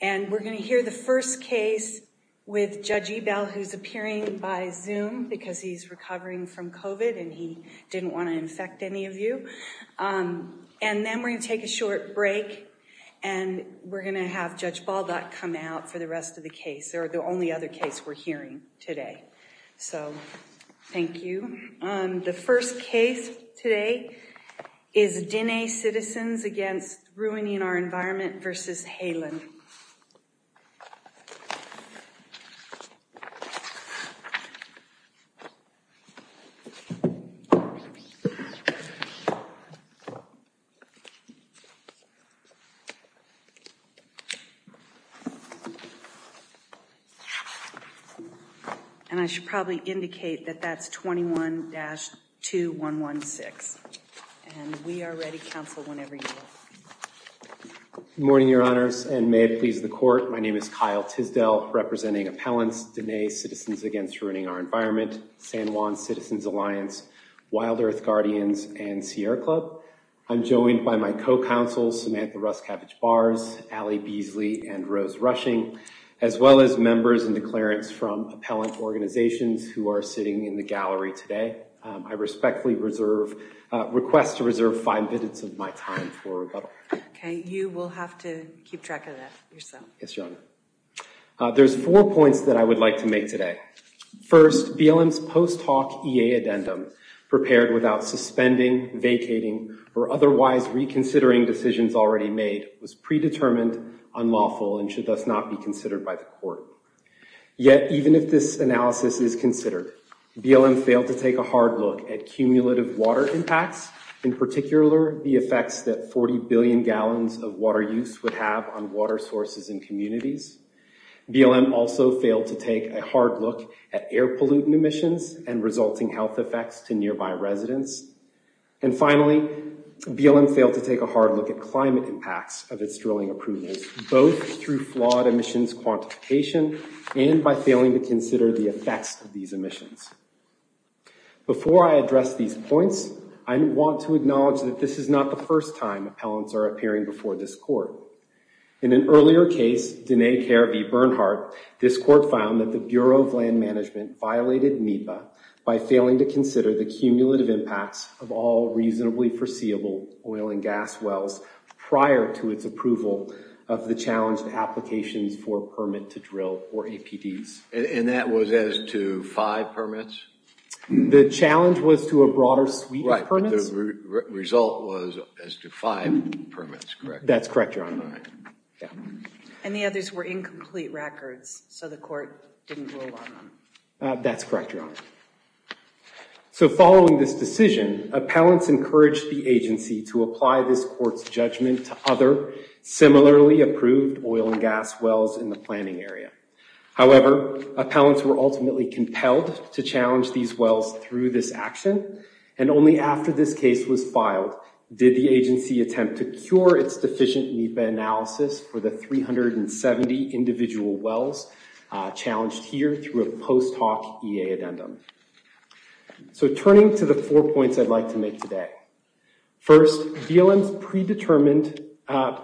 And we're going to hear the first case with Judge Ebell who's appearing by Zoom because he's recovering from COVID and he didn't want to infect any of you. And then we're going to take a short break and we're going to have Judge Baldock come out for the rest of the case or the only other case we're hearing today. So thank you. The first case today is Dine Citizens Against Ruining Our Environment v. Haaland and I should probably indicate that that's 21-2116 and we are ready counsel whenever you are. Good morning your honors and may it please the court. My name is Kyle Tisdell representing Appellants, Dine Citizens Against Ruining Our Environment, San Juan Citizens Alliance, Wild Earth Guardians, and Sierra Club. I'm joined by my co-counsel Samantha Ruscavage-Bars, Allie Beasley, and Rose Rushing as well as members and declarants from appellant organizations who are sitting in the gallery today. I respectfully request to reserve five minutes of my time for rebuttal. Okay, you will have to keep track of that yourself. Yes, your honor. There's four points that I would like to make today. First, BLM's post-talk EA addendum prepared without suspending, vacating, or otherwise reconsidering decisions already made was predetermined, unlawful, and should thus not be considered by the court. Yet even if this analysis is considered, BLM failed to take a hard look at cumulative water impacts, in particular the effects that 40 billion gallons of water use would have on water sources in communities. BLM also failed to take a hard look at air pollutant emissions and resulting health effects to nearby residents. And finally, BLM failed to take a hard look at climate impacts of its drilling approvals, both through flawed emissions quantification and by failing to consider the effects of these emissions. Before I address these points, I want to acknowledge that this is not the first time appellants are appearing before this court. In an earlier case, Denae Carey v. Bernhardt, this court found that the Bureau of Land Management violated NEPA by failing to consider the cumulative impacts of all reasonably foreseeable oil and gas wells prior to its approval of the challenged applications for permit to drill or APDs. And that was as to five permits? The challenge was to a broader suite of permits? The result was as to five permits, correct? That's correct, Your Honor. And the others were incomplete records, so the court didn't rule on them? That's correct, Your Honor. So following this decision, appellants encouraged the agency to apply this court's judgment to other similarly approved oil and gas wells in the planning area. However, appellants were ultimately compelled to challenge these wells through this action, and only after this case was filed did the agency attempt to cure its deficient NEPA analysis for the 370 individual wells challenged here through a post hoc EA addendum. So turning to the four points I'd like to make today. First, BLM's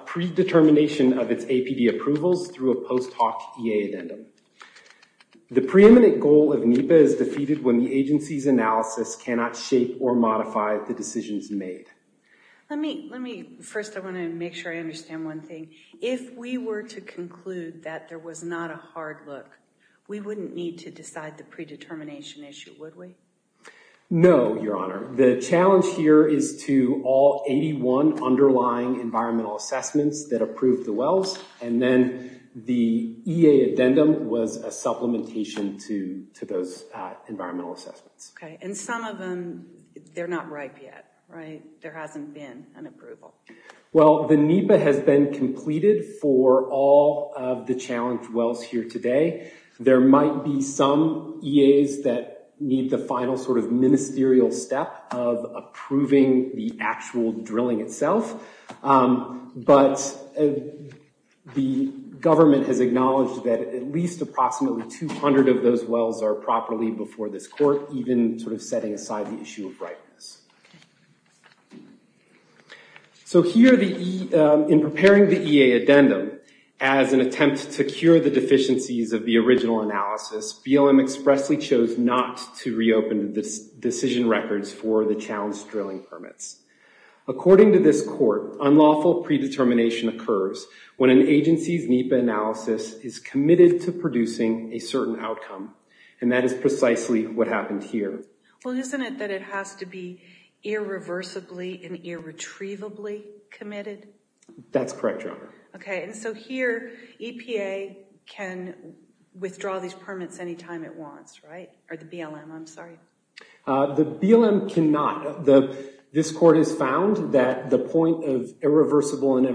predetermination of its APD approvals through a post hoc EA addendum. The preeminent goal of NEPA is defeated when the agency's analysis cannot shape or modify the decisions made. First, I want to make sure I understand one thing. If we were to conclude that there was not a hard look, we wouldn't need to decide the predetermination issue, would we? No, Your Honor. The challenge here is to all 81 underlying environmental assessments that approved the wells, and then the EA addendum was a And some of them, they're not ripe yet, right? There hasn't been an approval. Well, the NEPA has been completed for all of the challenged wells here today. There might be some EAs that need the final sort of ministerial step of approving the actual drilling itself, but the government has acknowledged that at least approximately 200 of those wells are properly before this court, even sort of setting aside the issue of ripeness. So here, in preparing the EA addendum as an attempt to cure the deficiencies of the original analysis, BLM expressly chose not to reopen the decision records for the challenged drilling permits. According to this court, unlawful predetermination occurs when an agency's NEPA is committed to producing a certain outcome, and that is precisely what happened here. Well, isn't it that it has to be irreversibly and irretrievably committed? That's correct, Your Honor. Okay, and so here, EPA can withdraw these permits anytime it wants, right? Or the BLM, I'm sorry. The BLM cannot. This court has found that the point of irreversible and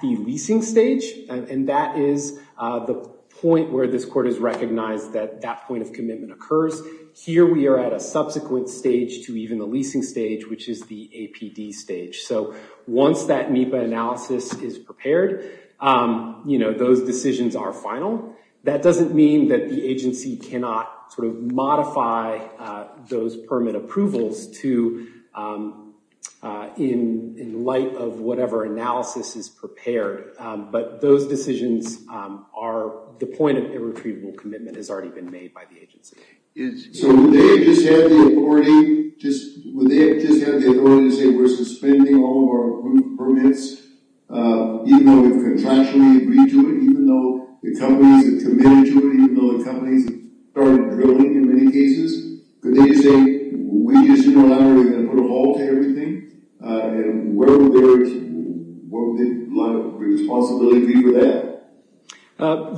the leasing stage, and that is the point where this court has recognized that that point of commitment occurs. Here, we are at a subsequent stage to even the leasing stage, which is the APD stage. So once that NEPA analysis is prepared, those decisions are final. That doesn't mean that the agency cannot sort of modify those permit approvals in light of whatever analysis is prepared, but those decisions are the point of irretrievable commitment has already been made by the agency. So would they just have the authority to say, we're suspending all of our approved permits, even though we've contractually agreed to it, even though the companies have committed to it, even though the companies have started drilling in many cases? Could they say, we just didn't allow it, we're going to put a halt to everything? And where would their responsibility be for that?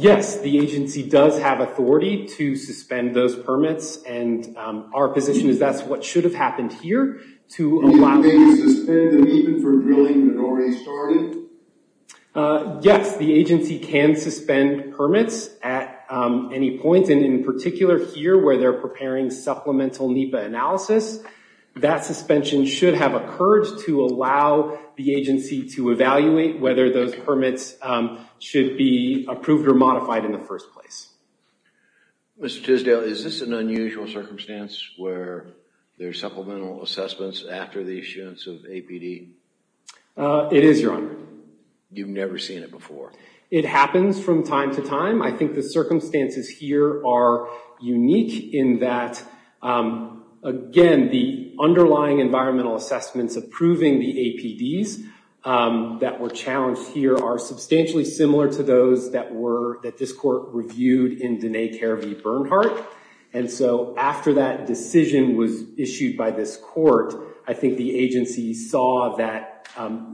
Yes, the agency does have authority to suspend those permits, and our position is that's what should have happened here, to allow... They can suspend them even for drilling that already started? Yes, the agency can suspend permits at any point, and in particular here where they're preparing supplemental NEPA analysis, that suspension should have occurred to allow the agency to evaluate whether those permits should be approved or modified in the first place. Mr. Tisdale, is this an unusual circumstance where there are supplemental assessments after the issuance of APD? It is, Your Honor. You've never seen it before? It happens from time to time. I think the circumstances here are unique in that, again, the underlying environmental assessments approving the APDs that were challenged here are substantially similar to those that this court reviewed in Dene Care v. Bernhardt. After that decision was issued by this court, I think the agency saw that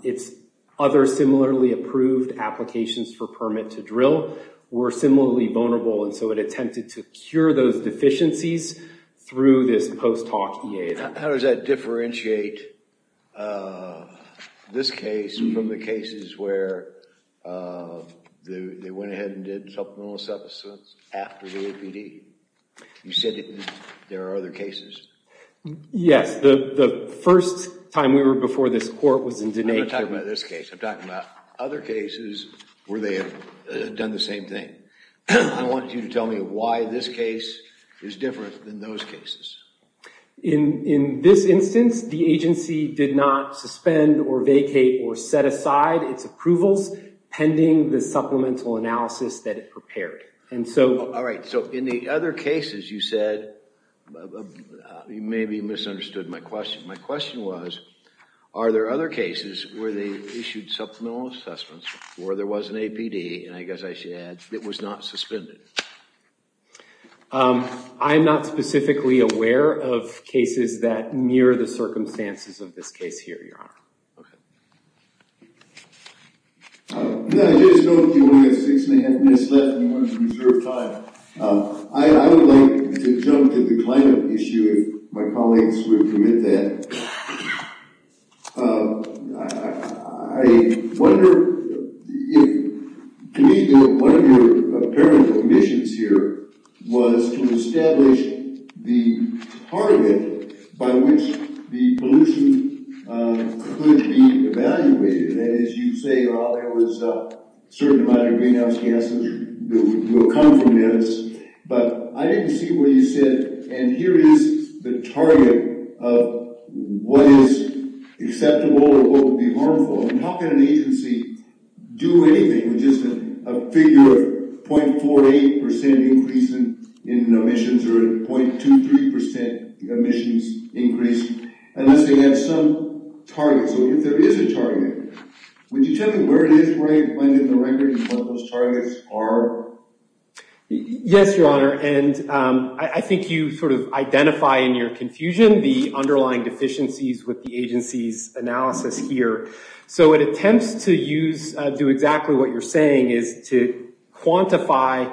its other similarly approved applications for permit to drill were similarly vulnerable, and so it attempted to cure those deficiencies through this post hoc EA. How does that differentiate this case from the cases where they went ahead and did supplemental assessments after the APD? You said there are other cases? Yes. The first time we were before this court was in Dene Care v. Bernhardt. I'm not talking about this case. I'm talking about other cases where they have done the same thing. I want you to tell me why this case is different than those cases. In this instance, the agency did not suspend or vacate or set aside its approvals pending the supplemental analysis that it prepared. All right. So in the other cases you said, you maybe misunderstood my question. My question was, are there other cases where they issued supplemental assessments where there was an APD, and I guess I should add, it was not suspended? I'm not specifically aware of cases that mirror the circumstances of this case here, Your Honor. Okay. Now, I just know that you only have six and a half minutes left, and you want to reserve time. I would like to jump to the climate issue, if my colleagues would permit that. To me, one of your apparent omissions here was to establish the target by which the pollution could be evaluated. As you say, there was a certain amount of greenhouse gases that would come from this. But I didn't see where you said, and here is the target of what is acceptable or what would be harmful. How can an agency do anything with just a figure of 0.48 percent increase in omissions or 0.23 percent emissions increase, unless they have some target? So if there is a target, would you tell me where it is right when in the record and what those targets are? Yes, Your Honor, and I think you sort of identify in your confusion the underlying deficiencies with the agency's analysis here. So it attempts to do exactly what you're saying, is to estimate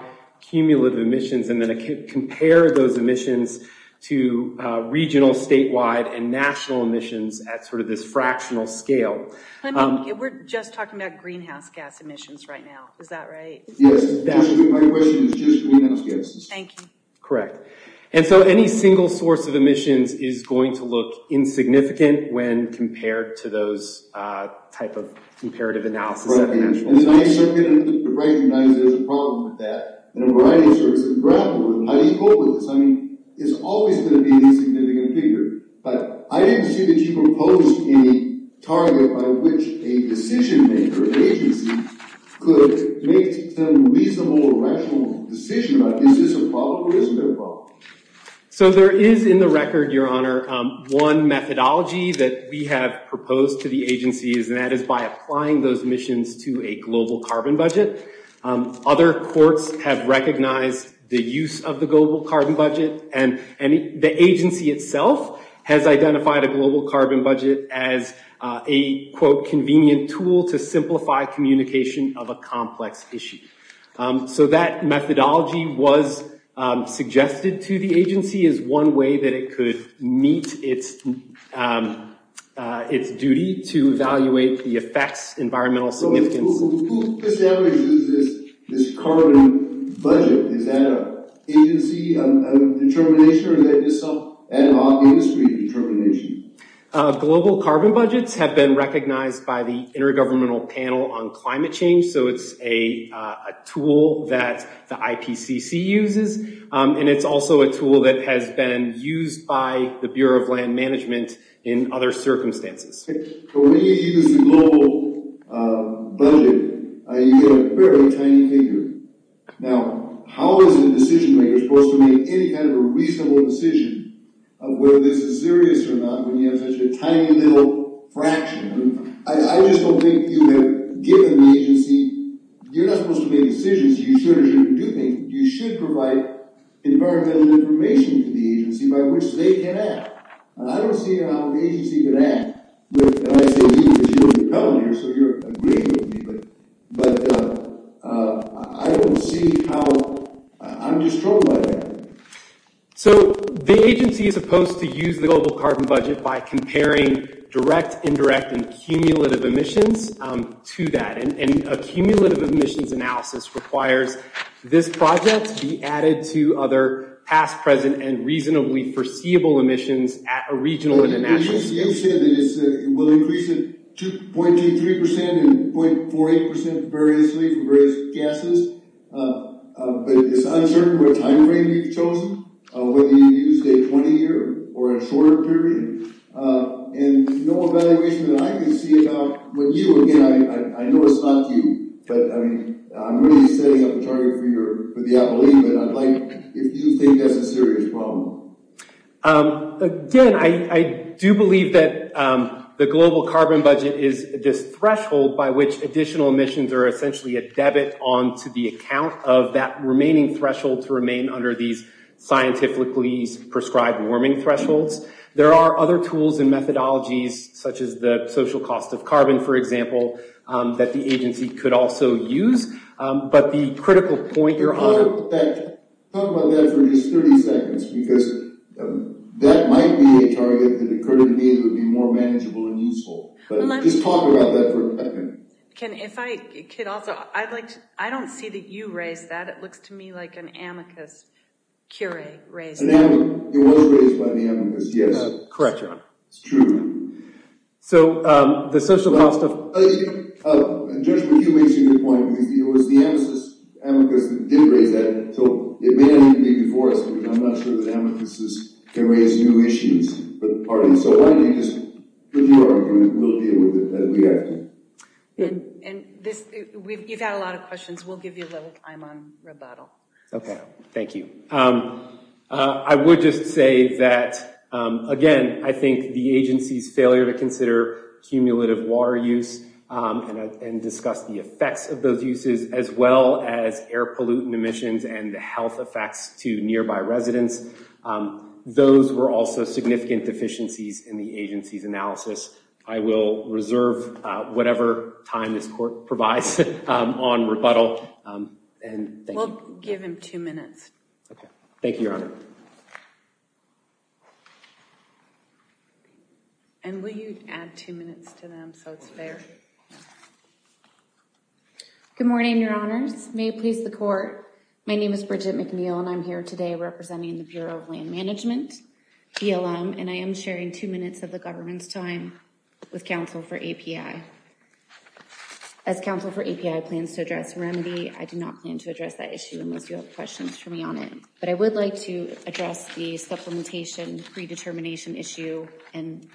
regional, statewide, and national emissions at sort of this fractional scale. We're just talking about greenhouse gas emissions right now, is that right? Yes, my question is just greenhouse gases. Thank you. Correct. And so any single source of emissions is going to look insignificant when compared to those type of comparative analysis. Right, and the United States is going to recognize there's a problem with that, and a variety of sources are grappling with it. How do you cope with this? I mean, it's always going to be a significant figure, but I didn't see that you proposed a target by which a decision-maker agency could make some reasonable or rational decision about is this a problem or isn't it a problem? So there is in the record, Your Honor, one methodology that we have proposed to the agency, and that is by applying those emissions to a global carbon budget. Other courts have recognized the use of the global carbon budget, and the agency itself has identified a global carbon budget as a, quote, convenient tool to simplify communication of a complex issue. So that methodology was suggested to the agency as one way that it could meet its duty to evaluate the effects, environmental significance. Who disavows this carbon budget? Is that an agency determination, or is that just some ad hoc industry determination? Global carbon budgets have been recognized by the Intergovernmental Panel on Climate Change, so it's a tool that the IPCC uses, and it's also a tool that has been used by the Bureau of Land Management in other circumstances. So when you use the global budget, you get a very tiny figure. Now, how is a decision-maker supposed to make any kind of a reasonable decision of whether this is serious or not when you have such a tiny little fraction? I just don't think you have given the agency—you're not supposed to make decisions you should or shouldn't be doing. You should provide environmental information to the agency by which they can act. I don't see how the agency can act, and I see that you're coming here, so you're agreeing with me, but I don't see how—I'm just troubled by that. So the agency is supposed to use the global carbon budget by comparing direct, indirect, and cumulative emissions to that, and a cumulative emissions analysis requires this project to be emissions at a regional and a national scale. You said that it will increase at 2.23% and 0.48% variously for various gases, but it's uncertain what time frame you've chosen, whether you used a 20-year or a shorter period, and no evaluation that I can see about what you—again, I know it's not you, but I mean, I'm really setting up a target for your—for the appellee, but I'd like—if you think that's a serious problem. Again, I do believe that the global carbon budget is this threshold by which additional emissions are essentially a debit onto the account of that remaining threshold to remain under these scientifically prescribed warming thresholds. There are other tools and methodologies, such as the social cost of carbon, for example, that the agency could also use, but the critical point you're— talk about that for just 30 seconds, because that might be a target that occurred to me that would be more manageable and useful, but just talk about that for a second. Can—if I could also—I'd like to—I don't see that you raised that. It looks to me like an amicus curie raised that. An amicus—it was raised by the amicus, yes. Correct, Your Honor. It's true. So, the social cost of— Judge McHugh makes a good point, because it was the amicus that did raise that. So, it may not even be before us, but I'm not sure that amicuses can raise new issues for the parties. So, why don't you just—if you argue, we'll deal with it and react to it. And this—we've had a lot of questions. We'll give you a little time on rebuttal. Okay, thank you. I would just say that, again, I think the agency's failure to consider cumulative water use and discuss the effects of those uses, as well as air pollutant emissions and the health effects to nearby residents, those were also significant deficiencies in the agency's analysis. I will reserve whatever time this Court provides on rebuttal, and thank you. We'll give him two minutes. Okay, thank you, Your Honor. And will you add two minutes to them so it's fair? Yeah. Good morning, Your Honors. May it please the Court. My name is Bridget McNeil, and I'm here today representing the Bureau of Land Management, BLM, and I am sharing two minutes of the government's time with counsel for API. As counsel for API plans to address remedy, I do not plan to address that issue unless you have questions for me on it. But I would like to address the supplementation predetermination issue and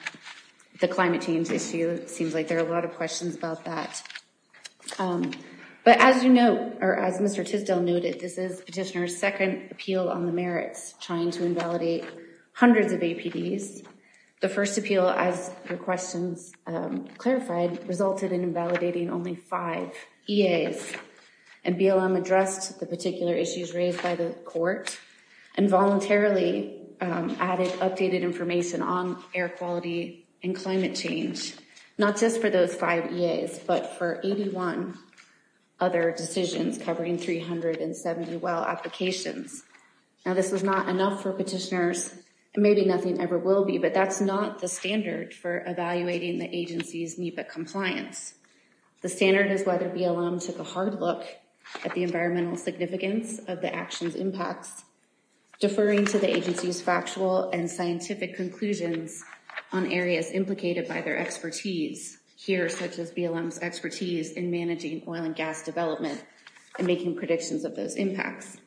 the climate change issue. It seems like there are a lot of questions about that. But as you know, or as Mr. Tisdell noted, this is Petitioner's second appeal on the merits, trying to invalidate hundreds of APDs. The first appeal, as your questions clarified, resulted in invalidating only five EAs, and BLM addressed the particular issues raised by the air quality and climate change, not just for those five EAs, but for 81 other decisions covering 370 well applications. Now, this was not enough for petitioners, and maybe nothing ever will be, but that's not the standard for evaluating the agency's NEPA compliance. The standard is whether BLM took a hard look at the environmental significance of the action's impacts, deferring to the agency's factual and scientific conclusions on areas implicated by their expertise here, such as BLM's expertise in managing oil and gas development and making predictions of those impacts.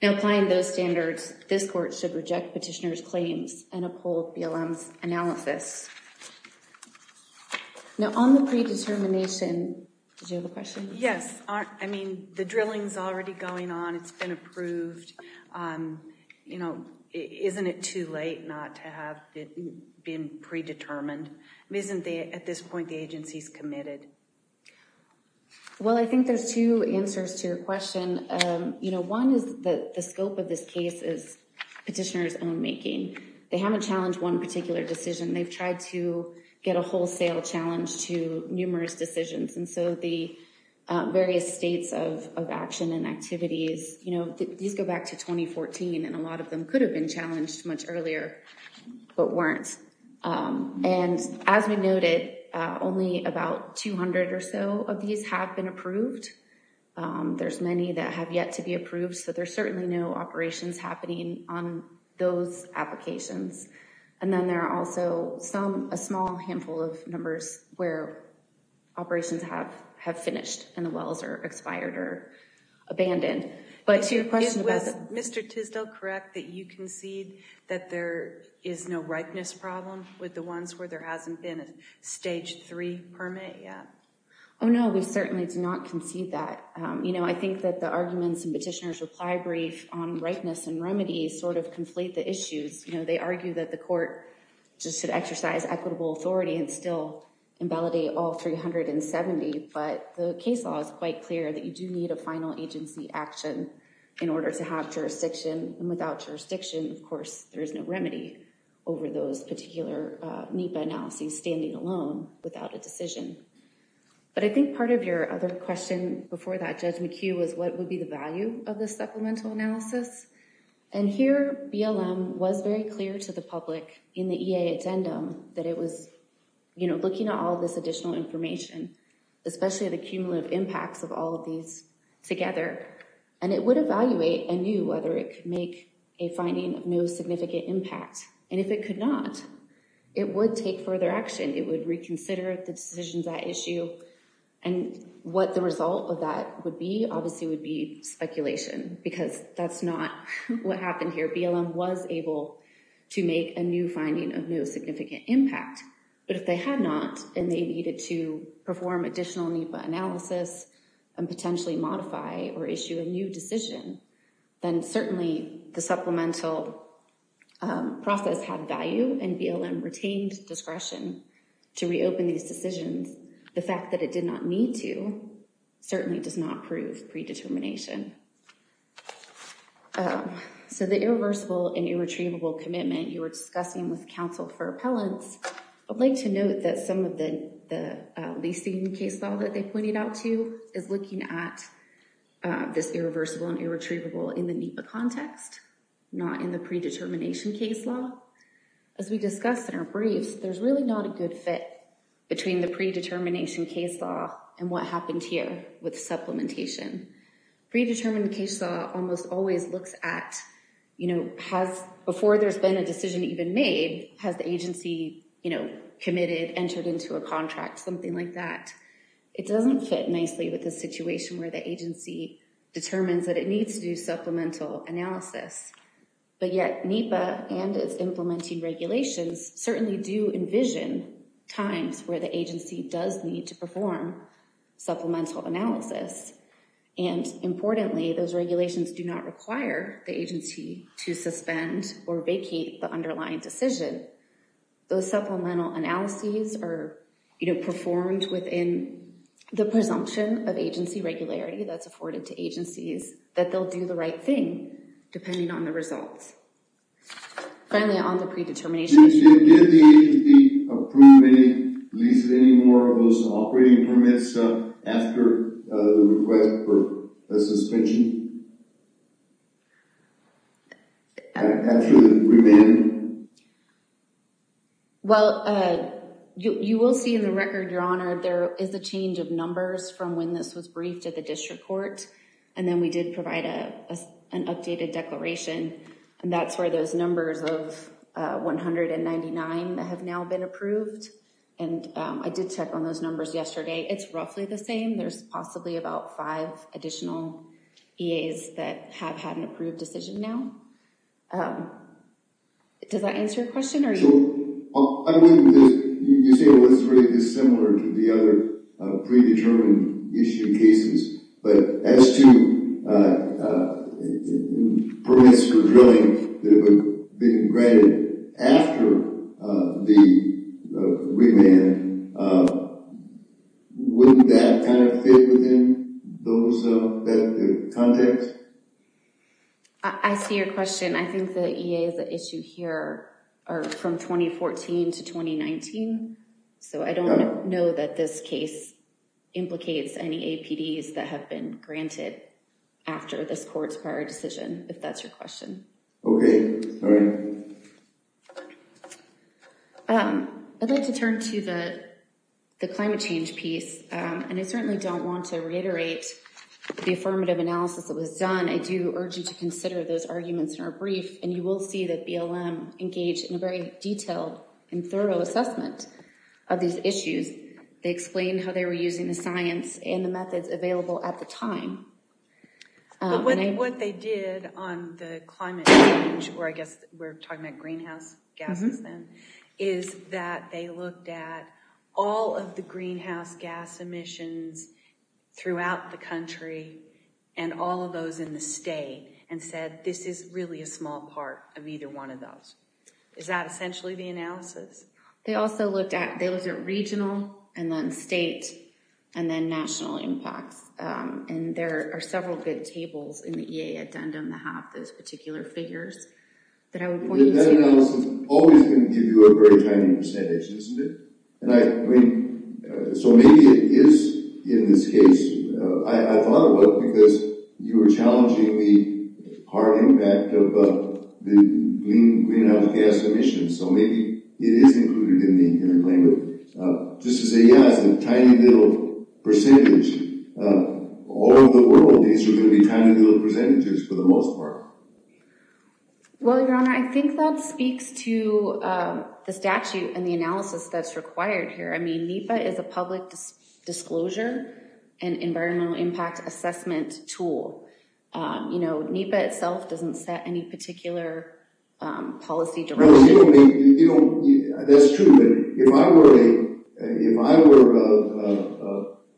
Now, applying those standards, this court should reject petitioners' claims and uphold BLM's analysis. Now, on the predetermination, did you have a question? Yes. I mean, the drilling's already going on. It's been approved. You know, isn't it too late not to have been predetermined? Isn't the, at this point, the agency's committed? Well, I think there's two answers to your question. You know, one is that the scope of this case is petitioners' own making. They haven't challenged one particular decision. They've tried to get a wholesale challenge to numerous decisions, and so the various states of action and activities, you know, these go back to 2014, and a lot of them could have been challenged much earlier, but weren't. And as we noted, only about 200 or so of these have been approved. There's many that have yet to be approved, so there's certainly no operations happening on those applications. And then there are also some, a small handful of numbers where operations have finished and the wells are expired or abandoned. But to your question, was Mr. Tisdell correct that you concede that there is no ripeness problem with the ones where there hasn't been a stage three permit yet? Oh no, we certainly do not concede that. You know, I think that the arguments and petitioners' reply brief on ripeness and remedies sort of conflate the issues. You know, they argue that the court just should exercise equitable authority and still invalidate all 370, but the case law is quite clear that you do need a final agency action in order to have jurisdiction. And without jurisdiction, of course, there is no remedy over those particular NEPA analyses standing alone without a decision. But I think part of your other question before that, Judge McHugh, was what would be the value of the supplemental analysis? And here, BLM was very clear to the public in the EA addendum that it was, you know, looking at all of this additional information, especially the cumulative impacts of all of these together, and it would evaluate anew whether it could make a finding of no significant impact. And if it could not, it would take further action. It would reconsider the decisions at issue. And what the result of that would be obviously would be speculation, because that's not what happened here. BLM was able to make a new finding of no significant impact, but if they had not and they needed to perform additional NEPA analysis and potentially modify or issue a new decision, then certainly the supplemental process had value and BLM retained discretion to reopen these decisions. The fact that it did not need to certainly does not prove predetermination. So the irreversible and irretrievable commitment you were discussing with counsel for appellants, I'd like to note that some of the the leasing case law that they pointed out to you is looking at this irreversible and irretrievable in the NEPA context, not in the predetermination case law. As we discussed in our briefs, there's really not a good fit between the predetermination case law and what happened here with supplementation. Predetermined case law almost always looks at, you know, before there's been a decision even made, has the agency, you know, committed, entered into a contract, something like that. It doesn't fit nicely with the situation where the agency determines that it needs to do supplemental analysis. But yet NEPA and its implementing regulations certainly do envision times where the agency does need to perform supplemental analysis. And importantly, those regulations do not require the agency to suspend or vacate the underlying decision. Those supplemental analyses are, you know, performed within the presumption of agency regularity that's afforded to agencies that they'll do the right thing depending on the results. Finally, on the predetermination. Did the agency approve any, lease any more of those operating permits after the request for a suspension? After the remand? Well, you will see in the record, your honor, there is a change of numbers from when this was briefed at the district court. And then we did provide an updated declaration. And that's where those numbers of 199 that have now been approved. And I did check on those numbers yesterday. It's roughly the same. There's possibly about five additional EAs that have had an approved decision now. Does that answer your question? I mean, you say it was really similar to the other predetermined issue cases. But as to permits for drilling that have been granted after the remand, wouldn't that kind of fit within those, that context? I see your question. I think the EA is here are from 2014 to 2019. So I don't know that this case implicates any APDs that have been granted after this court's prior decision, if that's your question. Okay. I'd like to turn to the climate change piece. And I certainly don't want to reiterate the affirmative analysis that was done. I do urge you to consider those arguments in our brief. And you will see that BLM engaged in a very detailed and thorough assessment of these issues. They explained how they were using the science and the methods available at the time. But what they did on the climate change, or I guess we're talking about greenhouse gases then, is that they looked at all of the greenhouse gas emissions throughout the country and all of those in the state and said this is really a small part of either one of those. Is that essentially the analysis? They also looked at, they looked at regional and then state and then national impacts. And there are several good tables in the EA addendum that have those particular figures that I would point to. That analysis always can give you a very tiny percentage, isn't it? And I, I mean, so maybe it is in this case, I thought about it because you were challenging the hard impact of the greenhouse gas emissions. So maybe it is included in the interplay. But just to say, yeah, it's a tiny little percentage. All over the world, these are going to be tiny little percentages for the most part. Well, Your Honor, I think that speaks to the statute and the analysis that's required here. I mean, NEPA is a public disclosure and environmental impact assessment tool. You know, NEPA itself doesn't set any particular policy direction. You know, that's true. But if I were a, if I were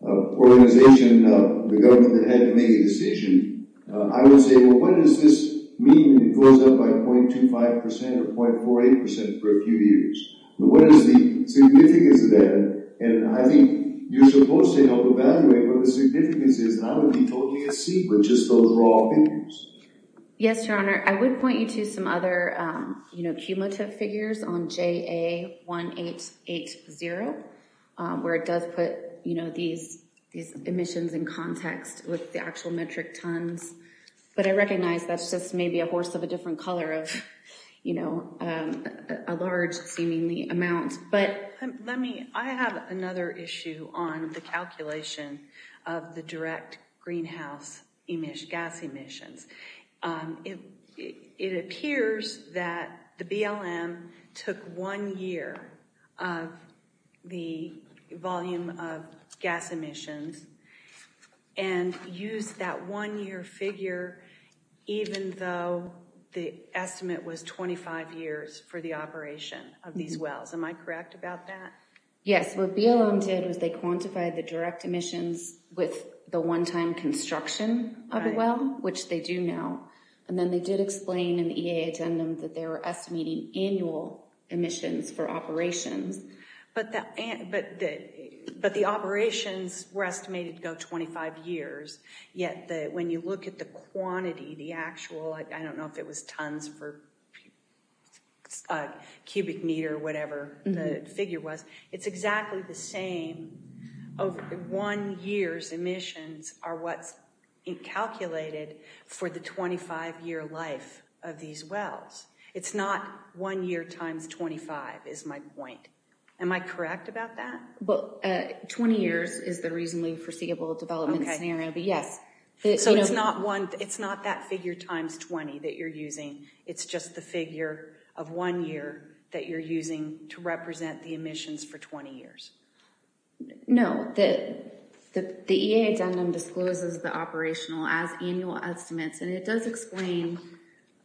an organization, the government that had to make a decision, I would say, well, what does this mean? It goes up by 0.25% or 0.48% for a few years. What is the significance of that? And I think you're supposed to help evaluate what the significance is. And I would be totally at sea with just those raw figures. Yes, Your Honor. I would point you to some other, you know, cumulative figures on JA1880, where it does put, you know, these, these emissions in context with the actual metric tons. But I recognize that's just maybe a horse of a different color of, you know, a large seemingly amount. But let me, I have another issue on the calculation of the direct greenhouse gas emissions. It appears that the BLM took one year of the volume of gas emissions and used that one year figure, even though the estimate was 25 years for the operation of these wells. Am I correct about that? Yes, what BLM did was they quantified the direct emissions with the one-time construction of a well, which they do now. And then they did explain in the EA addendum that they were estimating annual emissions for operations. But the, but the, but the operations were estimated to go 25 years. Yet the, when you look at the quantity, the actual, I don't know if it was tons for a cubic meter or whatever the figure was, it's exactly the same. Over one year's emissions are what's calculated for the 25-year life of these wells. It's not one year times 25 is my point. Am I correct about that? Well, 20 years is the reasonably foreseeable development scenario, but yes. So it's not one, it's not that figure times 20 that you're using. It's just the figure of one year that you're using to represent the emissions for 20 years. No, the EA addendum discloses the operational as annual estimates, and it does explain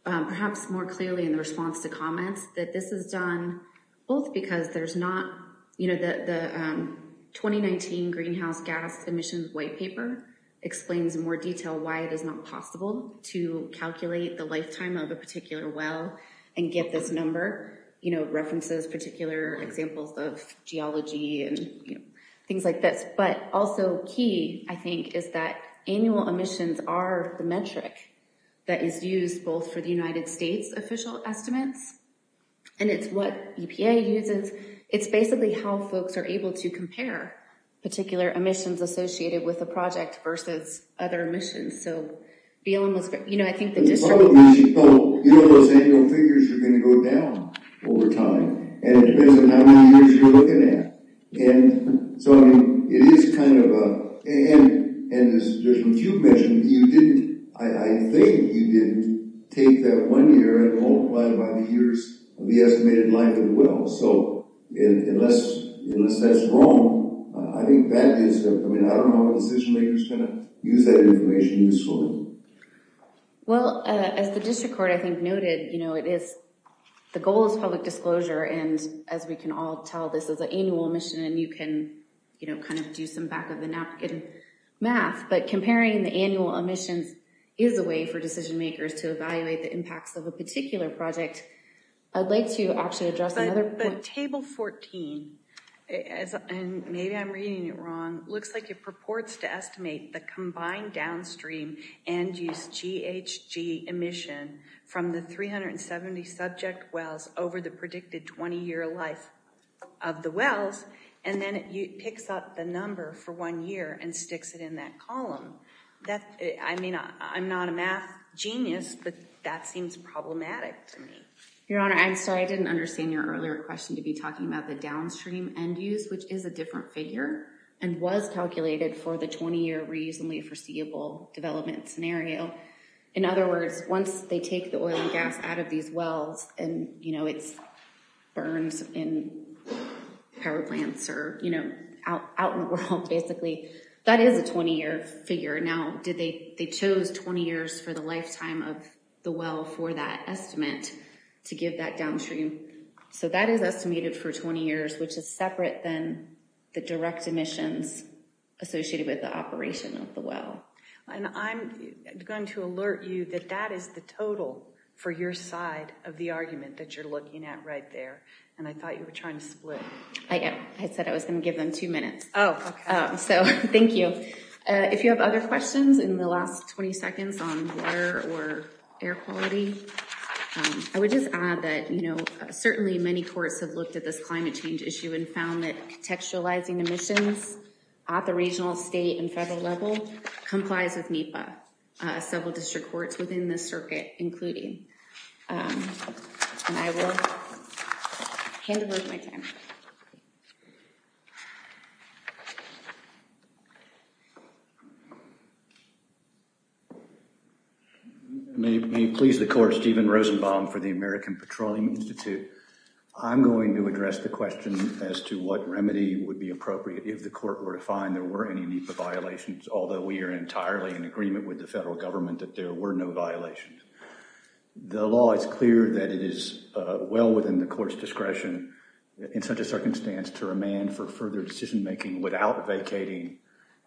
perhaps more clearly in the response to comments that this is done both because there's not, you know, the 2019 greenhouse gas emissions white paper explains in more detail why it is not possible to calculate the lifetime of a particular well and get this number, you know, references, particular examples of geology and things like this. But also key, I think, is that annual emissions are the metric that is used both for the United States official estimates, and it's what EPA uses. It's basically how folks are able to compare particular emissions associated with a project versus other emissions. So, you know, I think the district... Well, you know those annual figures are going to go down over time, and it depends on how many you did. I think you didn't take that one year and multiply it by the years of the estimated life of the well. So unless that's wrong, I think that is, I mean, I don't know if decision makers kind of use that information usefully. Well, as the district court, I think, noted, you know, the goal is public disclosure, and as we can all tell, this is an annual emission, and you can, you know, kind of do some back-of-the-napkin math, but comparing the annual emissions is a way for decision makers to evaluate the impacts of a particular project. I'd like to actually address another point. But Table 14, and maybe I'm reading it wrong, looks like it purports to estimate the combined downstream end-use GHG emission from the 370 subject wells over the predicted 20-year life of the wells, and then it picks up the number for one year and sticks it in that column. That, I mean, I'm not a math genius, but that seems problematic to me. Your Honor, I'm sorry, I didn't understand your earlier question to be talking about the downstream end-use, which is a different figure and was calculated for the 20-year reasonably foreseeable development scenario. In other words, once they take the oil and gas out of these wells and, you know, it burns in power plants or, you know, out in the world, basically, that is a 20-year figure. Now, did they, they chose 20 years for the lifetime of the well for that estimate to give that downstream, so that is estimated for 20 years, which is separate than the direct emissions associated with the operation of the well. And I'm going to alert you that that is the total for your side of the argument that you're looking at right there, and I thought you were trying to split. I said I was going to give them two minutes. Oh, okay. So, thank you. If you have other questions in the last 20 seconds on water or air quality, I would just add that, you know, certainly many courts have looked at this climate change issue and found that contextualizing emissions at the regional, state, and federal level complies with NEPA. Several district courts within this circuit, including, and I will hand over my time. May it please the court, Stephen Rosenbaum for the American Petroleum Institute. I'm going to address the question as to what remedy would be appropriate if the court were to find there were any NEPA violations, although we are entirely in agreement with the federal government that there were no violations. The law is clear that it is well within the court's discretion in such a circumstance to remand for further decision making without vacating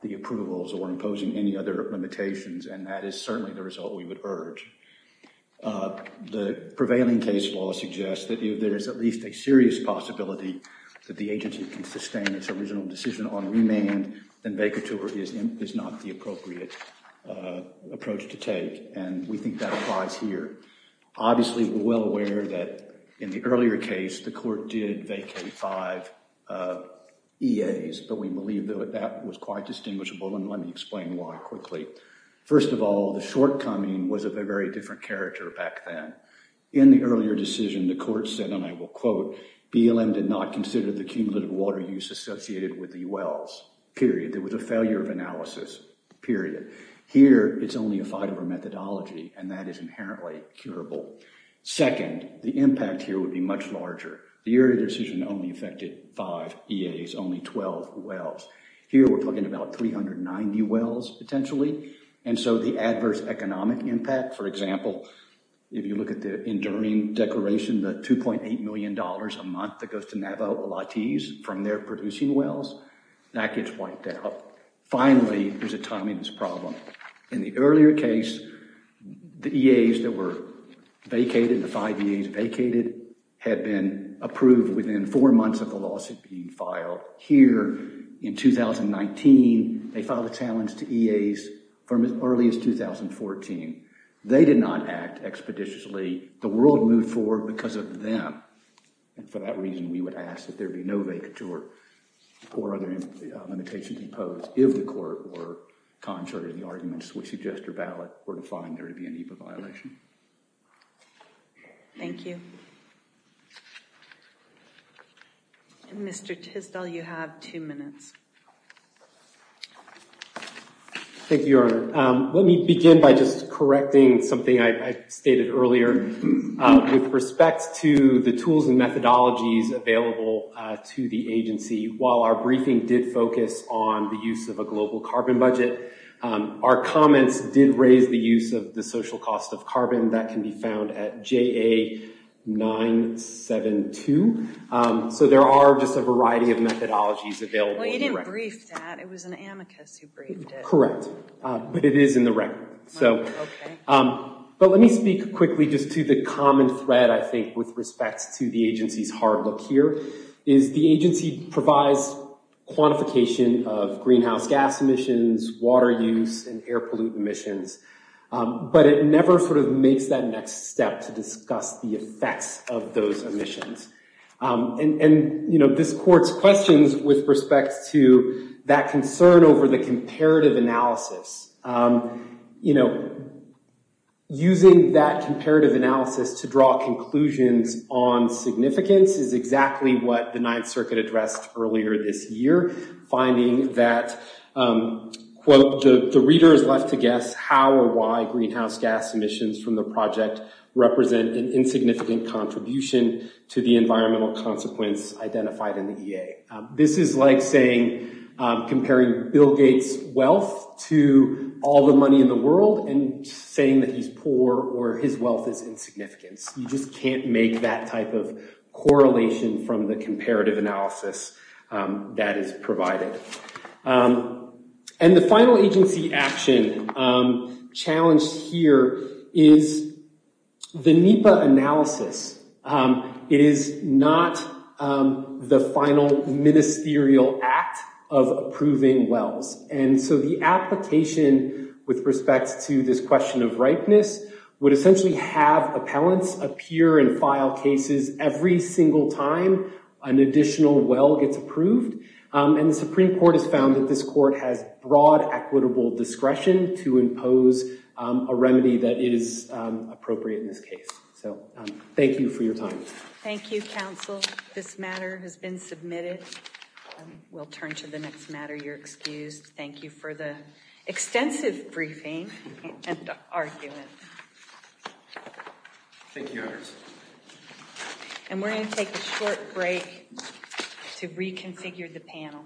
the approvals or imposing any other limitations, and that is certainly the result we would urge. The prevailing case law suggests that if there is at least a serious possibility that the agency can sustain its original decision on remand, then vacatur is not the appropriate approach to take, and we think that applies here. Obviously, we're well aware that in the earlier case, the court did vacate five EAs, but we believe that that was quite distinguishable, and let me explain why quickly. First of all, the shortcoming was of a very different character back then. In the earlier decision, the court said, and I will quote, BLM did not consider the cumulative water use associated with the wells, period. There was a failure of analysis, period. Here, it's only a fight over methodology, and that is inherently curable. Second, the impact here would be much larger. The earlier decision only affected five EAs, only 12 wells. Here, we're talking about 390 wells potentially, and so the adverse economic impact, for example, if you look at the enduring declaration, the $2.8 million a month that goes to Navajo-Olatiz from their producing wells, that gets wiped out. Finally, there's a timing problem. In the earlier case, the EAs that were vacated, the five EAs vacated, had been approved within four months of the lawsuit being filed. Here, in 2019, they filed a challenge to EAs from as early as 2014. They did not act expeditiously. The world moved forward because of them, and for that reason, we would ask that there be no vacature or other limitations imposed if the court were contrary to the arguments which suggest your ballot were defined there to be a NEPA violation. Thank you. And Mr. Tisdall, you have two minutes. Thank you, Your Honor. Let me begin by just correcting something I stated earlier. With respect to the tools and methodologies available to the agency, while our briefing did focus on the use of a global carbon budget, our comments did raise the use of the social cost of carbon that can be found at JA972. So there are just a variety of methodologies available. You didn't brief that. It was an amicus who briefed it. Correct, but it is in the record. But let me speak quickly just to the common thread, I think, with respect to the agency's hard look here, is the agency provides quantification of greenhouse gas emissions, water use, and air pollutant emissions, but it never sort of makes that next step to discuss the effects of those emissions. And this court's questions with respect to that concern over the comparative analysis, using that comparative analysis to draw conclusions on significance is exactly what the Ninth Circuit addressed earlier this year, finding that, quote, the reader is left to guess how or why greenhouse gas emissions from the project represent an insignificant contribution to the environmental consequence identified in the EA. This is like saying, comparing Bill Gates' wealth to all the money in the world and saying that he's poor or his wealth is insignificant. You just can't make that type of correlation from the comparative analysis that is provided. And the final agency action challenged here is the NEPA analysis. It is not the final ministerial act of approving wells. And so the application with respect to this question of ripeness would essentially have appellants appear and file cases every single time an additional well gets approved. And the Supreme Appellate is appropriate in this case. So thank you for your time. Thank you, counsel. This matter has been submitted. We'll turn to the next matter. You're excused. Thank you for the extensive briefing and argument. Thank you. And we're going to take a short break to reconfigure the panel.